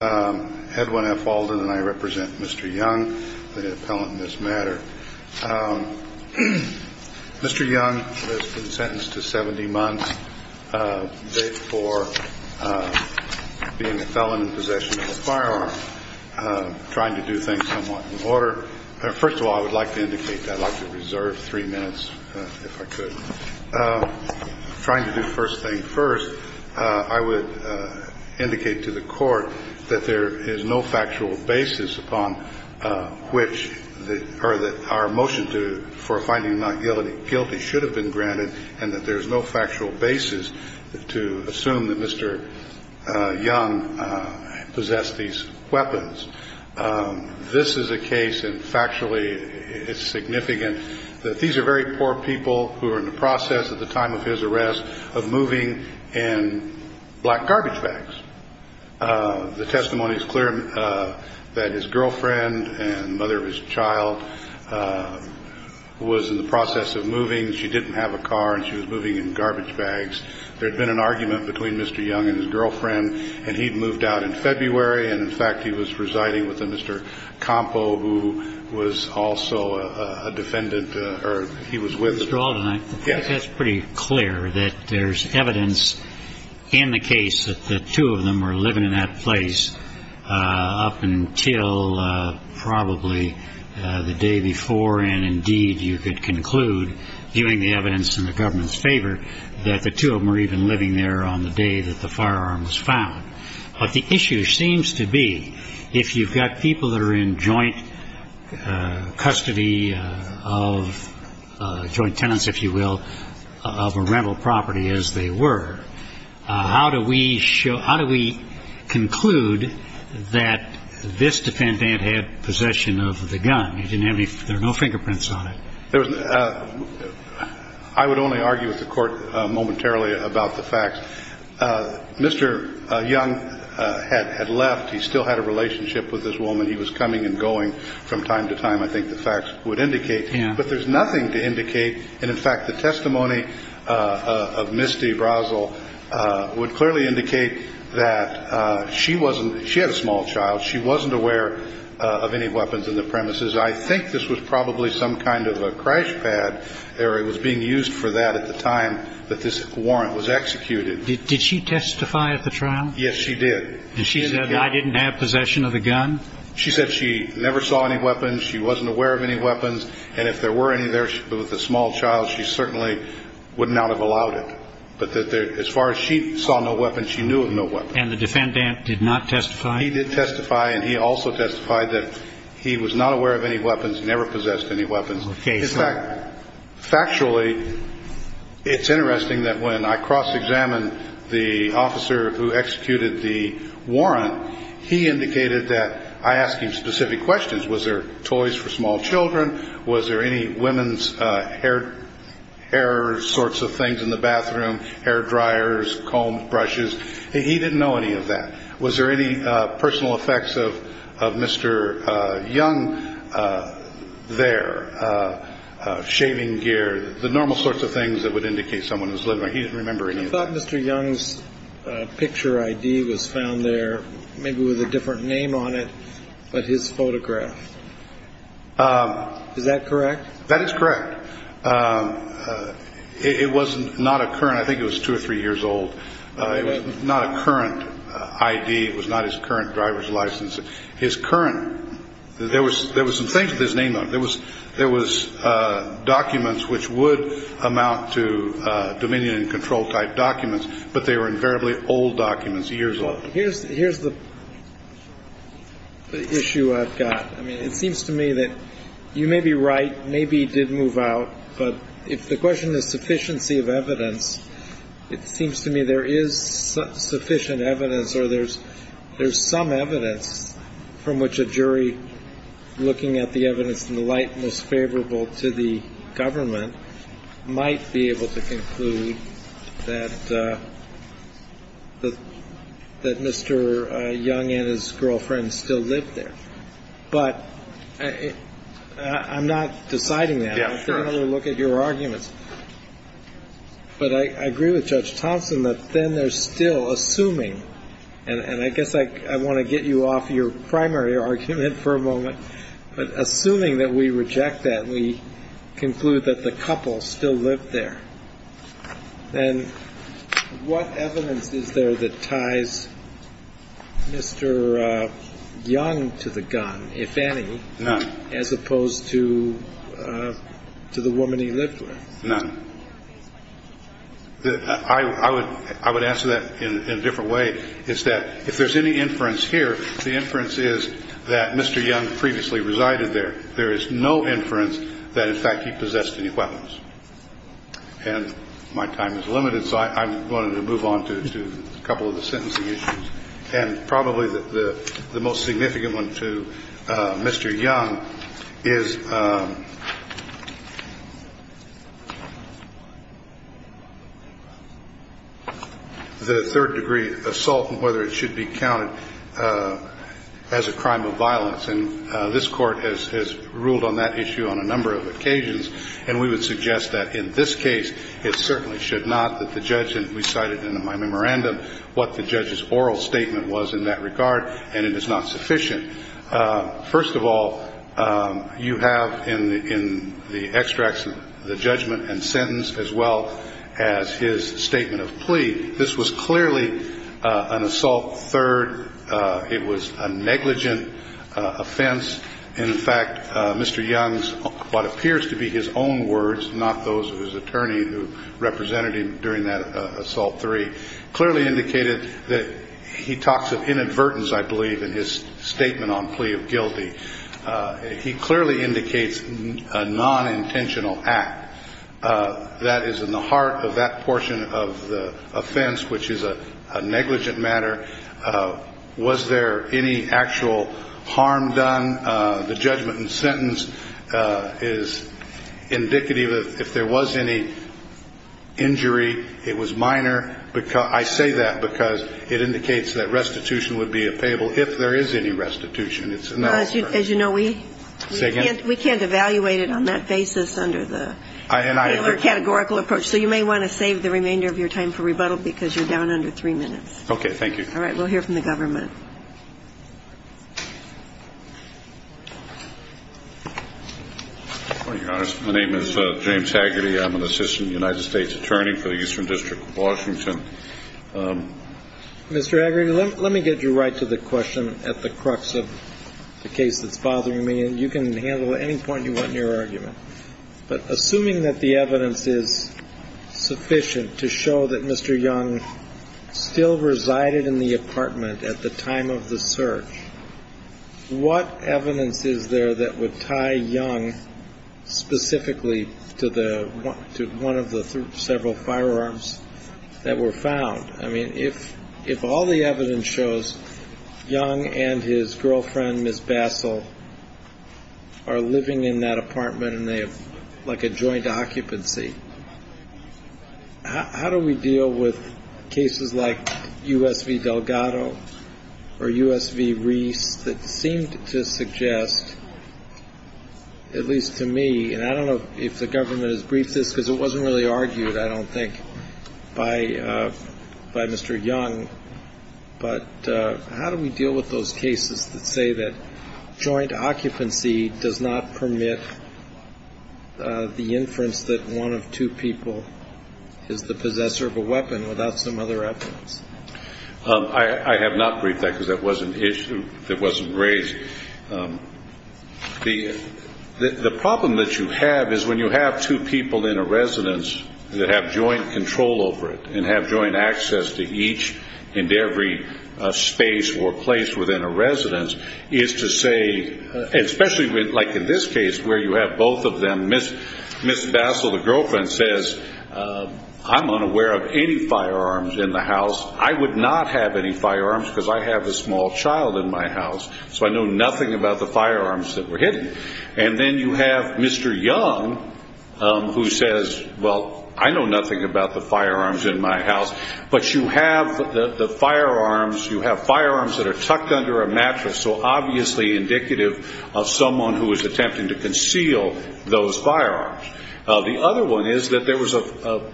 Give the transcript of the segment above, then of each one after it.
and I represent Mr. Young, the appellant in this matter. Mr. Young has been sentenced to 70 months for being a felon in possession of a firearm. I'm trying to do things somewhat in order. First of all, I would like to indicate that I'd like to reserve three minutes if there is no factual basis upon which our motion for finding him not guilty should have been granted and that there is no factual basis to assume that Mr. Young possessed these weapons. This is a case, and factually it's significant, that these are very poor people who are in the process at the time of his arrest of moving in black garbage bags. The testimony is clear that his girlfriend and mother of his child was in the process of moving. She didn't have a car, and she was moving in garbage bags. There had been an argument between Mr. Young and his girlfriend, and he'd moved out in February, and in fact he was residing with a Mr. Compo, who was also a defendant, or he was with the Mr. Alden, I think that's pretty clear, that there's evidence in the case that the two of them were living in that place up until probably the day before, and indeed you could conclude, viewing the evidence in the government's favor, that the two of them were even living there on the day that the firearm was found. But the issue seems to be, if you've got people that are in joint custody of, joint tenants, if you will, of a rental property as they were, how do we show, how do we conclude that this defendant had possession of the gun? He didn't have any, there are no fingerprints on it. There was, I would only argue with the court momentarily about the facts. Mr. Young had left, he still had a relationship with this woman, he was coming and going from time to time, I think the facts would indicate, but there's nothing to indicate, and in fact the testimony of Misty Brazel would clearly indicate that she wasn't, she had a small child, she was probably some kind of a crash pad, or it was being used for that at the time that this warrant was executed. Did she testify at the trial? Yes, she did. And she said, I didn't have possession of the gun? She said she never saw any weapons, she wasn't aware of any weapons, and if there were any there with the small child, she certainly would not have allowed it. But as far as she saw no weapons, she knew of no weapons. And the defendant did not testify? He did testify, and he also testified that he was not aware of any weapons, never possessed any weapons. In fact, factually, it's interesting that when I cross-examined the officer who executed the warrant, he indicated that I asked him specific questions. Was there toys for small children? Was there any women's hair sorts of things in the bathroom, hair dryers, combs, brushes? He didn't know any of that. Was there any personal effects of Mr. Young there? Shaving gear, the normal sorts of things that would indicate someone was living there. He didn't remember any of that. You thought Mr. Young's picture I.D. was found there, maybe with a different name on it, but his photograph. Is that correct? That is correct. It was not a current, I think it was two or three years old. It was not a current I.D. It was not his current driver's license. His current, there was some things with his name on it. There was documents which would amount to dominion and control type documents, but they were invariably old documents, years old. Here's the issue I've got. I mean, it seems to me that you may be right, maybe he did move out, but if the question is sufficiency of evidence, it seems to me there is sufficient evidence or there's some evidence from which a jury looking at the evidence in the light most favorable to the government might be able to conclude that Mr. Young and his girlfriend still lived there. But I'm not deciding that. I'm taking a look at your arguments. But I agree with Judge Thompson that then they're still assuming, and I guess I want to get you off your primary argument for a moment, but assuming that we reject that, we conclude that the couple still lived there. And what evidence is there that ties Mr. Young to the gun, if any, as opposed to the woman he lived with? None. I would answer that in a different way, is that if there's any inference here, the inference is that Mr. Young previously resided there. There is no inference that in fact he possessed any weapons. And my time is limited, so I wanted to move on to a couple of the sentencing issues. And probably the most significant one to Mr. Young is the third-degree assault and whether it should be counted as a crime of violence. And this Court has ruled on that issue on a number of occasions, and we would suggest that in this case it certainly should not, that the judge, and we cited in my memorandum what the judge's oral statement was in that regard, and it is not sufficient. First of all, you have in the extracts the judgment and sentence as well as his statement of plea. This was clearly an assault third. It was a negligent offense. In fact, Mr. Young's, what appears to be his own words, not those of his attorney who represented him during that assault three, clearly indicated that he talks of inadvertence, I believe, in his statement on plea of guilty. He clearly indicates a nonintentional act. That is in the heart of that portion of the offense, which is a negligent matter. Was there any actual harm done? The judgment and sentence is indicative of if there was any injury, it was minor. I say that because it indicates that restitution would be appayable if there is any restitution. It's not a third. As you know, we can't evaluate it on that basis under the Taylor categorical approach. So you may want to save the remainder of your time for rebuttal because you're down under three minutes. Okay. Thank you. All right. We'll hear from the government. Well, Your Honor, my name is James Haggerty. I'm an assistant United States attorney for the Eastern District of Washington. Mr. Haggerty, let me get you right to the question at the crux of the case that's in your argument. But assuming that the evidence is sufficient to show that Mr. Young still resided in the apartment at the time of the search, what evidence is there that would tie Young specifically to the one of the several firearms that were found? I mean, if all the evidence shows Young and his girlfriend, Ms. Bassel, are living in that apartment and they have like a joint occupancy, how do we deal with cases like U.S. v. Delgado or U.S. v. Reese that seem to suggest, at least to me, and I don't know if the government has briefed this because it wasn't really argued, I don't think, by Mr. Young, but how do we deal with those cases that say that joint occupancy does not permit the inference that one of two people is the possessor of a weapon without some other evidence? I have not briefed that because that wasn't raised. The problem that you have is when you have two people in a residence that have joint control over it and have joint access to each and every space or place within a residence is to say, especially like in this case where you have both of them, Ms. Bassel, the girlfriend, says, I'm unaware of any firearms in the house. I would not have any firearms because I have a small child in my house, so I know nothing about the firearms that were hidden. And then you have Mr. Young who says, well, I know nothing about the firearms in my house, but you have the firearms, you have firearms that are tucked under a mattress, so obviously indicative of someone who is attempting to conceal those firearms. The other one is that there was a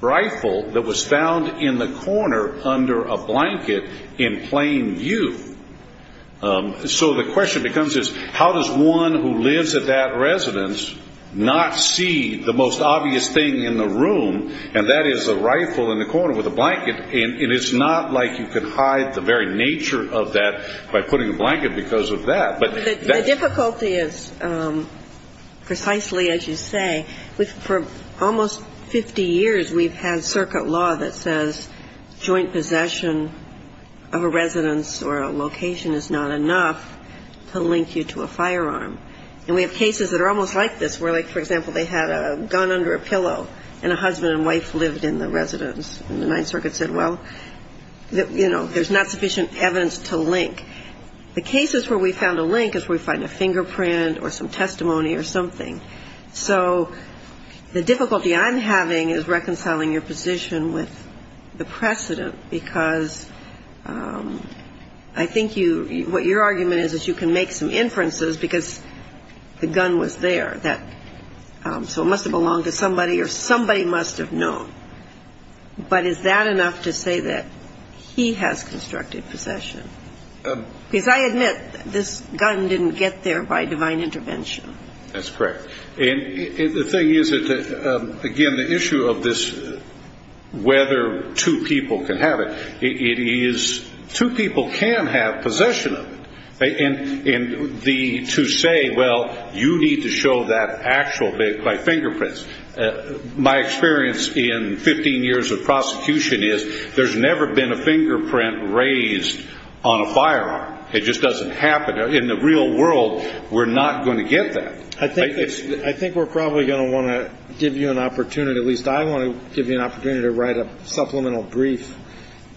rifle that was found in the corner under a blanket in plain view. So the question becomes is how does one who lives at that residence not see the most obvious thing in the room, and that is a rifle in the corner with a blanket. And it's not like you can hide the very nature of that by putting a blanket because of that. But that's the question. The difficulty is precisely as you say, for almost 50 years we've had circuit law that says joint possession of a residence or a location is not enough to link you to a firearm. And we have cases that are almost like this where, for example, they had a gun under a pillow and a husband and wife lived in the residence and the Ninth Circuit said, well, you know, there's not sufficient evidence to link. The cases where we found a link is where we find a fingerprint or some testimony or something. So the difficulty I'm having is reconciling your position with the precedent because I think what your argument is is you can make some inferences because the gun was there. So it must have belonged to somebody or somebody must have known. But is that enough to say that he has constructed possession? Because I admit this gun didn't get there by divine intervention. That's correct. And the thing is, again, the issue of this whether two people can have it, it is two people can have possession of it. And to say, well, you need to show that actual by fingerprints, my experience in 15 years of prosecution is there's never been a fingerprint raised on a firearm. It just doesn't happen. In the real world, we're not going to get that. I think we're probably going to want to give you an opportunity, at least I want to give you an opportunity to write a supplemental brief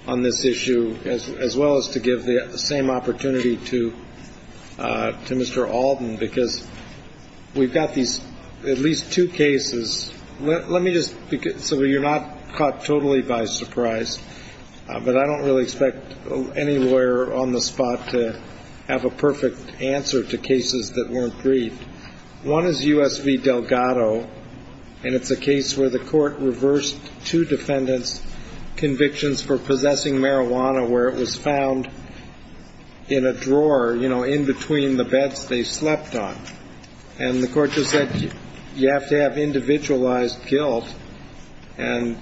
on this issue, as well as to give the same opportunity to Mr. Alden, because we've got these at least two cases. Let me just so you're not caught totally by surprise, but I don't really expect any lawyer on the spot to have a perfect answer to cases that weren't briefed. One is U.S. v. Delgado, and it's a case where the court reversed two defendants' convictions for possessing marijuana where it was found in a drawer in between the beds they slept on. And the court just said, you have to have individualized guilt, and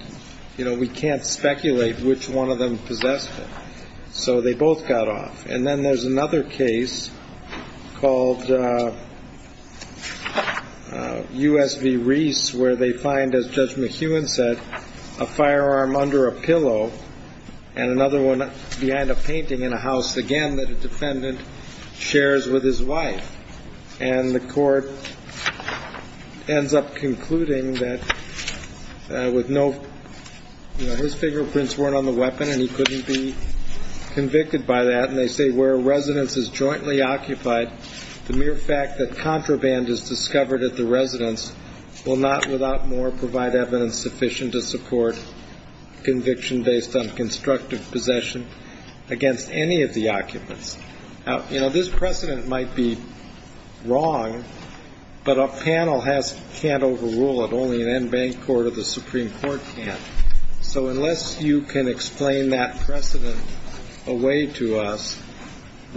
we can't speculate which one of them possessed it. So they both got off. And then there's another case called U.S. v. Reese where they find, as Judge McEwen said, a firearm under a pillow and another one behind a painting in a house, again, that a defendant shares with his wife. And the court ends up concluding that his fingerprints weren't on the weapon and he couldn't be convicted by that. And they say where a residence is jointly occupied, the mere fact that contraband is discovered at the residence will not, without more, provide evidence sufficient to support conviction based on constructive possession against any of the occupants. Now, you know, this precedent might be wrong, but a panel can't overrule it. Only an en banc court or the Supreme Court can. So unless you can explain that precedent away to us,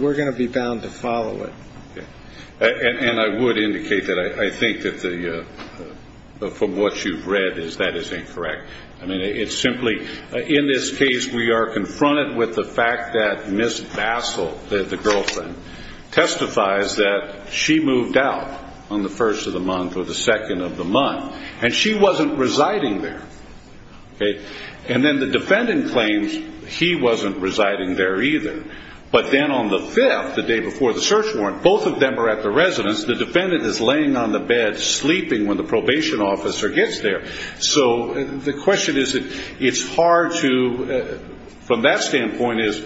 we're going to be bound to follow it. And I would indicate that I think that from what you've read is that is incorrect. I mean, it's simply in this case we are confronted with the fact that Miss Bassel, the girlfriend, testifies that she moved out on the first of the month or the second of the month, and she wasn't residing there. And then the defendant claims he wasn't residing there either. But then on the fifth, the day before the search warrant, both of them are at the residence. The defendant is laying on the bed sleeping when the probation officer gets there. So the question is that it's hard to, from that standpoint, is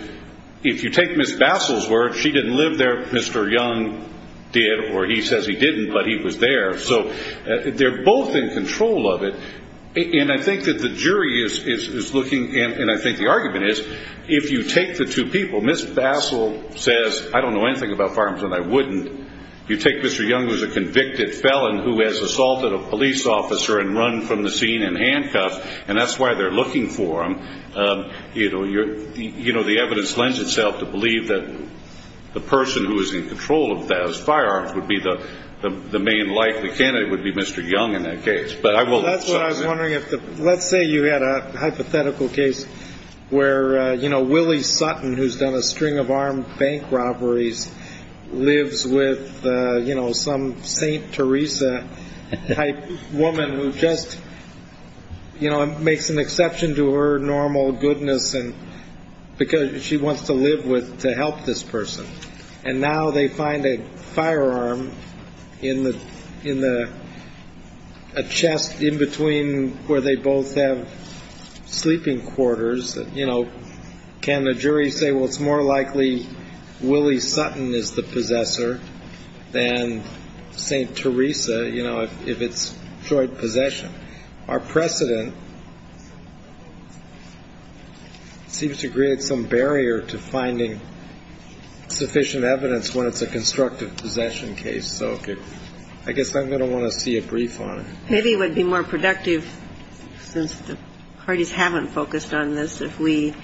if you take Miss Bassel's word, she didn't live there, Mr. Young did, or he says he didn't, but he was there. So they're both in control of it. And I think that the jury is looking, and I think the argument is, if you take the two people, Miss Bassel says, I don't know anything about firearms and I wouldn't. You take Mr. Young, who is a convicted felon who has assaulted a police officer and run from the scene in handcuffs, and that's why they're looking for him, the evidence lends itself to believe that the person who is in control of those firearms would be the main likely candidate would be Mr. Young in that case. But I will – That's what I was wondering. Let's say you had a hypothetical case where, you know, Willie Sutton, who's done a string of armed bank robberies, lives with, you know, some St. Teresa-type woman who just, you know, makes an exception to her normal goodness because she wants to live to help this person. And now they find a firearm in the – a chest in between where they both have sleeping quarters. You know, can the jury say, well, it's more likely Willie Sutton is the possessor than St. Teresa, you know, if it's joint possession? Our precedent seems to create some barrier to finding sufficient evidence when it's a constructive possession case. So I guess I'm going to want to see a brief on it. Maybe it would be more productive, since the parties haven't focused on this, if we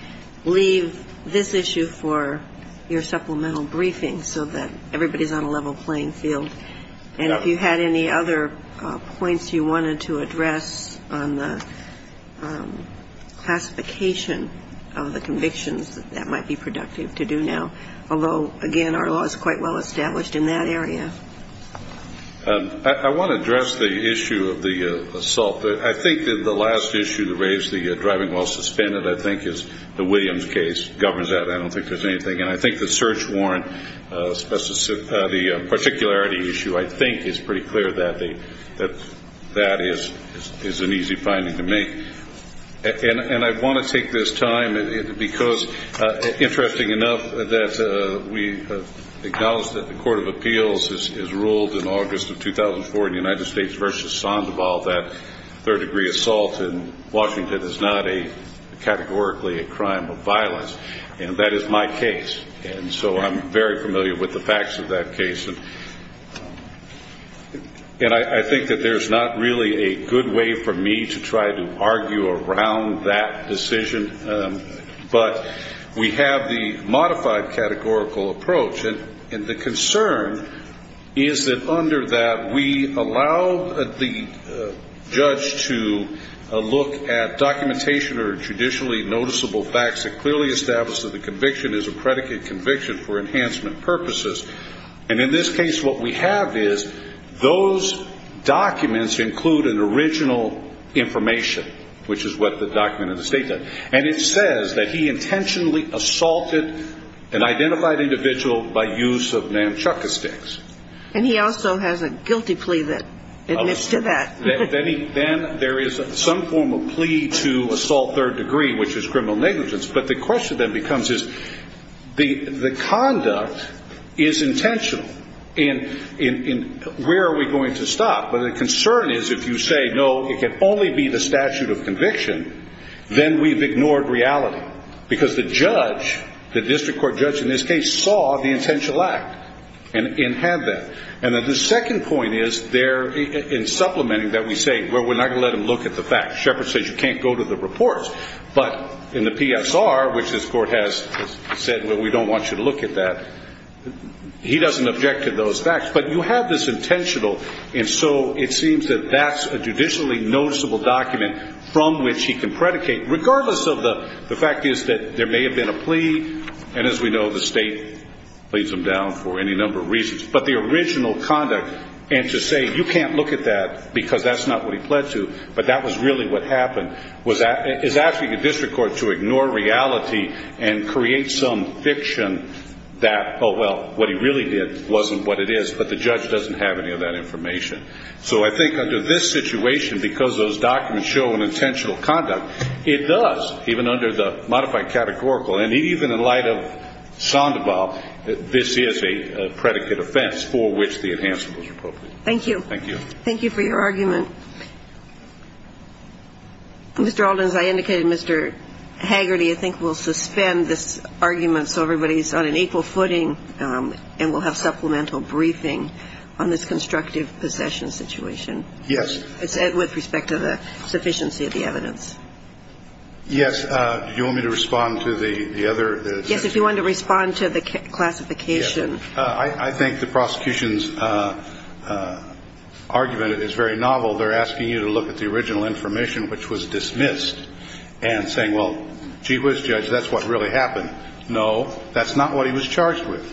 leave this issue for your supplemental briefing so that everybody's on a level playing field. And if you had any other points you wanted to address on the classification of the convictions, that might be productive to do now. Although, again, our law is quite well established in that area. I want to address the issue of the assault. I think that the last issue that raised the driving while suspended, I think, is the Williams case. It governs that. I don't think there's anything. And I think the search warrant, the particularity issue, I think, is pretty clear that that is an easy finding to make. And I want to take this time because, interesting enough, that we acknowledge that the Court of Appeals has ruled in August of 2004 in the United States versus Sandoval that third-degree assault in Washington is not categorically a crime of violence. And that is my case. And so I'm very familiar with the facts of that case. And I think that there's not really a good way for me to try to argue around that decision. But we have the modified categorical approach. And the concern is that under that, we allow the judge to look at documentation or judicially noticeable facts that clearly establish that the conviction is a predicate conviction for enhancement purposes. And in this case, what we have is those documents include an original information, which is what the document in the State does. And it says that he intentionally assaulted an identified individual by use of namchukka sticks. And he also has a guilty plea that admits to that. Then there is some form of plea to assault third degree, which is criminal negligence. But the question then becomes is the conduct is intentional. And where are we going to stop? But the concern is if you say, no, it can only be the statute of conviction, then we've ignored reality. Because the judge, the district court judge in this case, saw the intentional act and had that. And then the second point is there in supplementing that we say, well, we're not going to let him look at the facts. Shepherd says you can't go to the reports. But in the PSR, which this court has said, well, we don't want you to look at that, he doesn't object to those facts. But you have this intentional, and so it seems that that's a judicially noticeable document from which he can predicate, regardless of the fact is that there may have been a plea. And as we know, the state lays them down for any number of reasons. But the original conduct, and to say you can't look at that because that's not what he pled to, but that was really what happened, is asking the district court to ignore reality and create some fiction that, oh, well, what he really did wasn't what it is, but the judge doesn't have any of that information. So I think under this situation, because those documents show an intentional conduct, it does, even under the modified categorical, and even in light of Sandoval, this is a predicate offense for which the enhancement was appropriate. Thank you. Thank you. Thank you for your argument. Mr. Alden, as I indicated, Mr. Hagerty, I think, will suspend this argument so everybody's on an equal footing and will have supplemental briefing on this constructive possession situation. Yes. With respect to the sufficiency of the evidence. Yes. Do you want me to respond to the other? Yes, if you want to respond to the classification. I think the prosecution's argument is very novel. They're asking you to look at the original information, which was dismissed, and saying, well, gee whiz, judge, that's what really happened. No, that's not what he was charged with.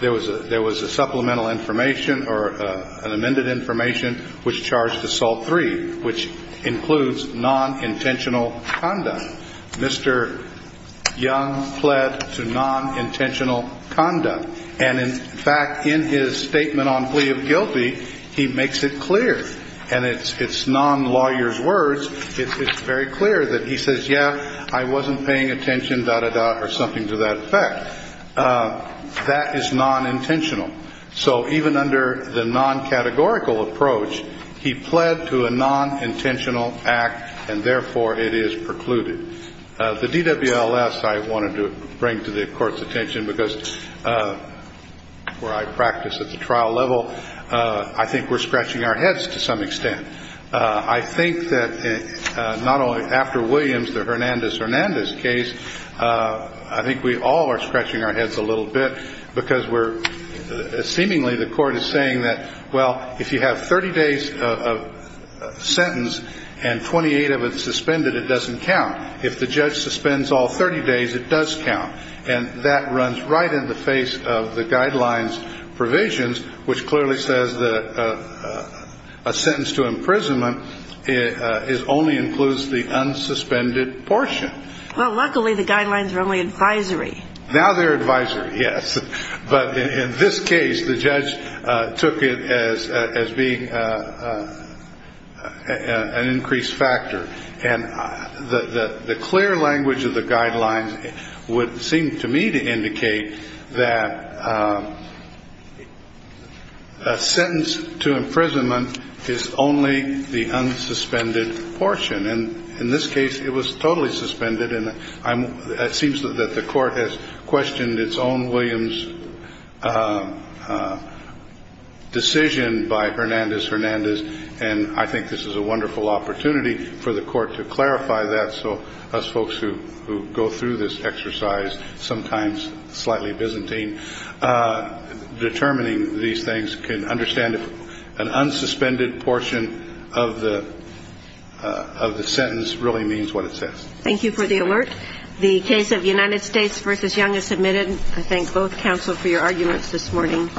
There was a supplemental information or an amended information which charged assault three, which includes non-intentional conduct. Mr. Young pled to non-intentional conduct. And, in fact, in his statement on plea of guilty, he makes it clear, and it's non-lawyer's words, it's very clear that he says, yeah, I wasn't paying attention, da-da-da, or something to that effect. That is non-intentional. So even under the non-categorical approach, he pled to a non-intentional act, and, therefore, it is precluded. The DWLS I wanted to bring to the Court's attention because where I practice at the trial level, I think we're scratching our heads to some extent. I think that not only after Williams, the Hernandez-Hernandez case, I think we all are scratching our heads a little bit because we're ‑‑ seemingly the Court is saying that, well, if you have 30 days of sentence and 28 of it suspended, it doesn't count. If the judge suspends all 30 days, it does count. And that runs right in the face of the guidelines provisions, which clearly says that a sentence to imprisonment only includes the unsuspended portion. Well, luckily, the guidelines are only advisory. Now they're advisory, yes. But in this case, the judge took it as being an increased factor. And the clear language of the guidelines would seem to me to indicate that a sentence to imprisonment is only the unsuspended portion. And in this case, it was totally suspended. And it seems that the Court has questioned its own Williams decision by Hernandez-Hernandez, and I think this is a wonderful opportunity for the Court to clarify that so us folks who go through this exercise, sometimes slightly Byzantine, determining these things can understand if an unsuspended portion of the sentence really means what it says. Thank you for the alert. The case of United States v. Young is submitted. I thank both counsel for your arguments this morning.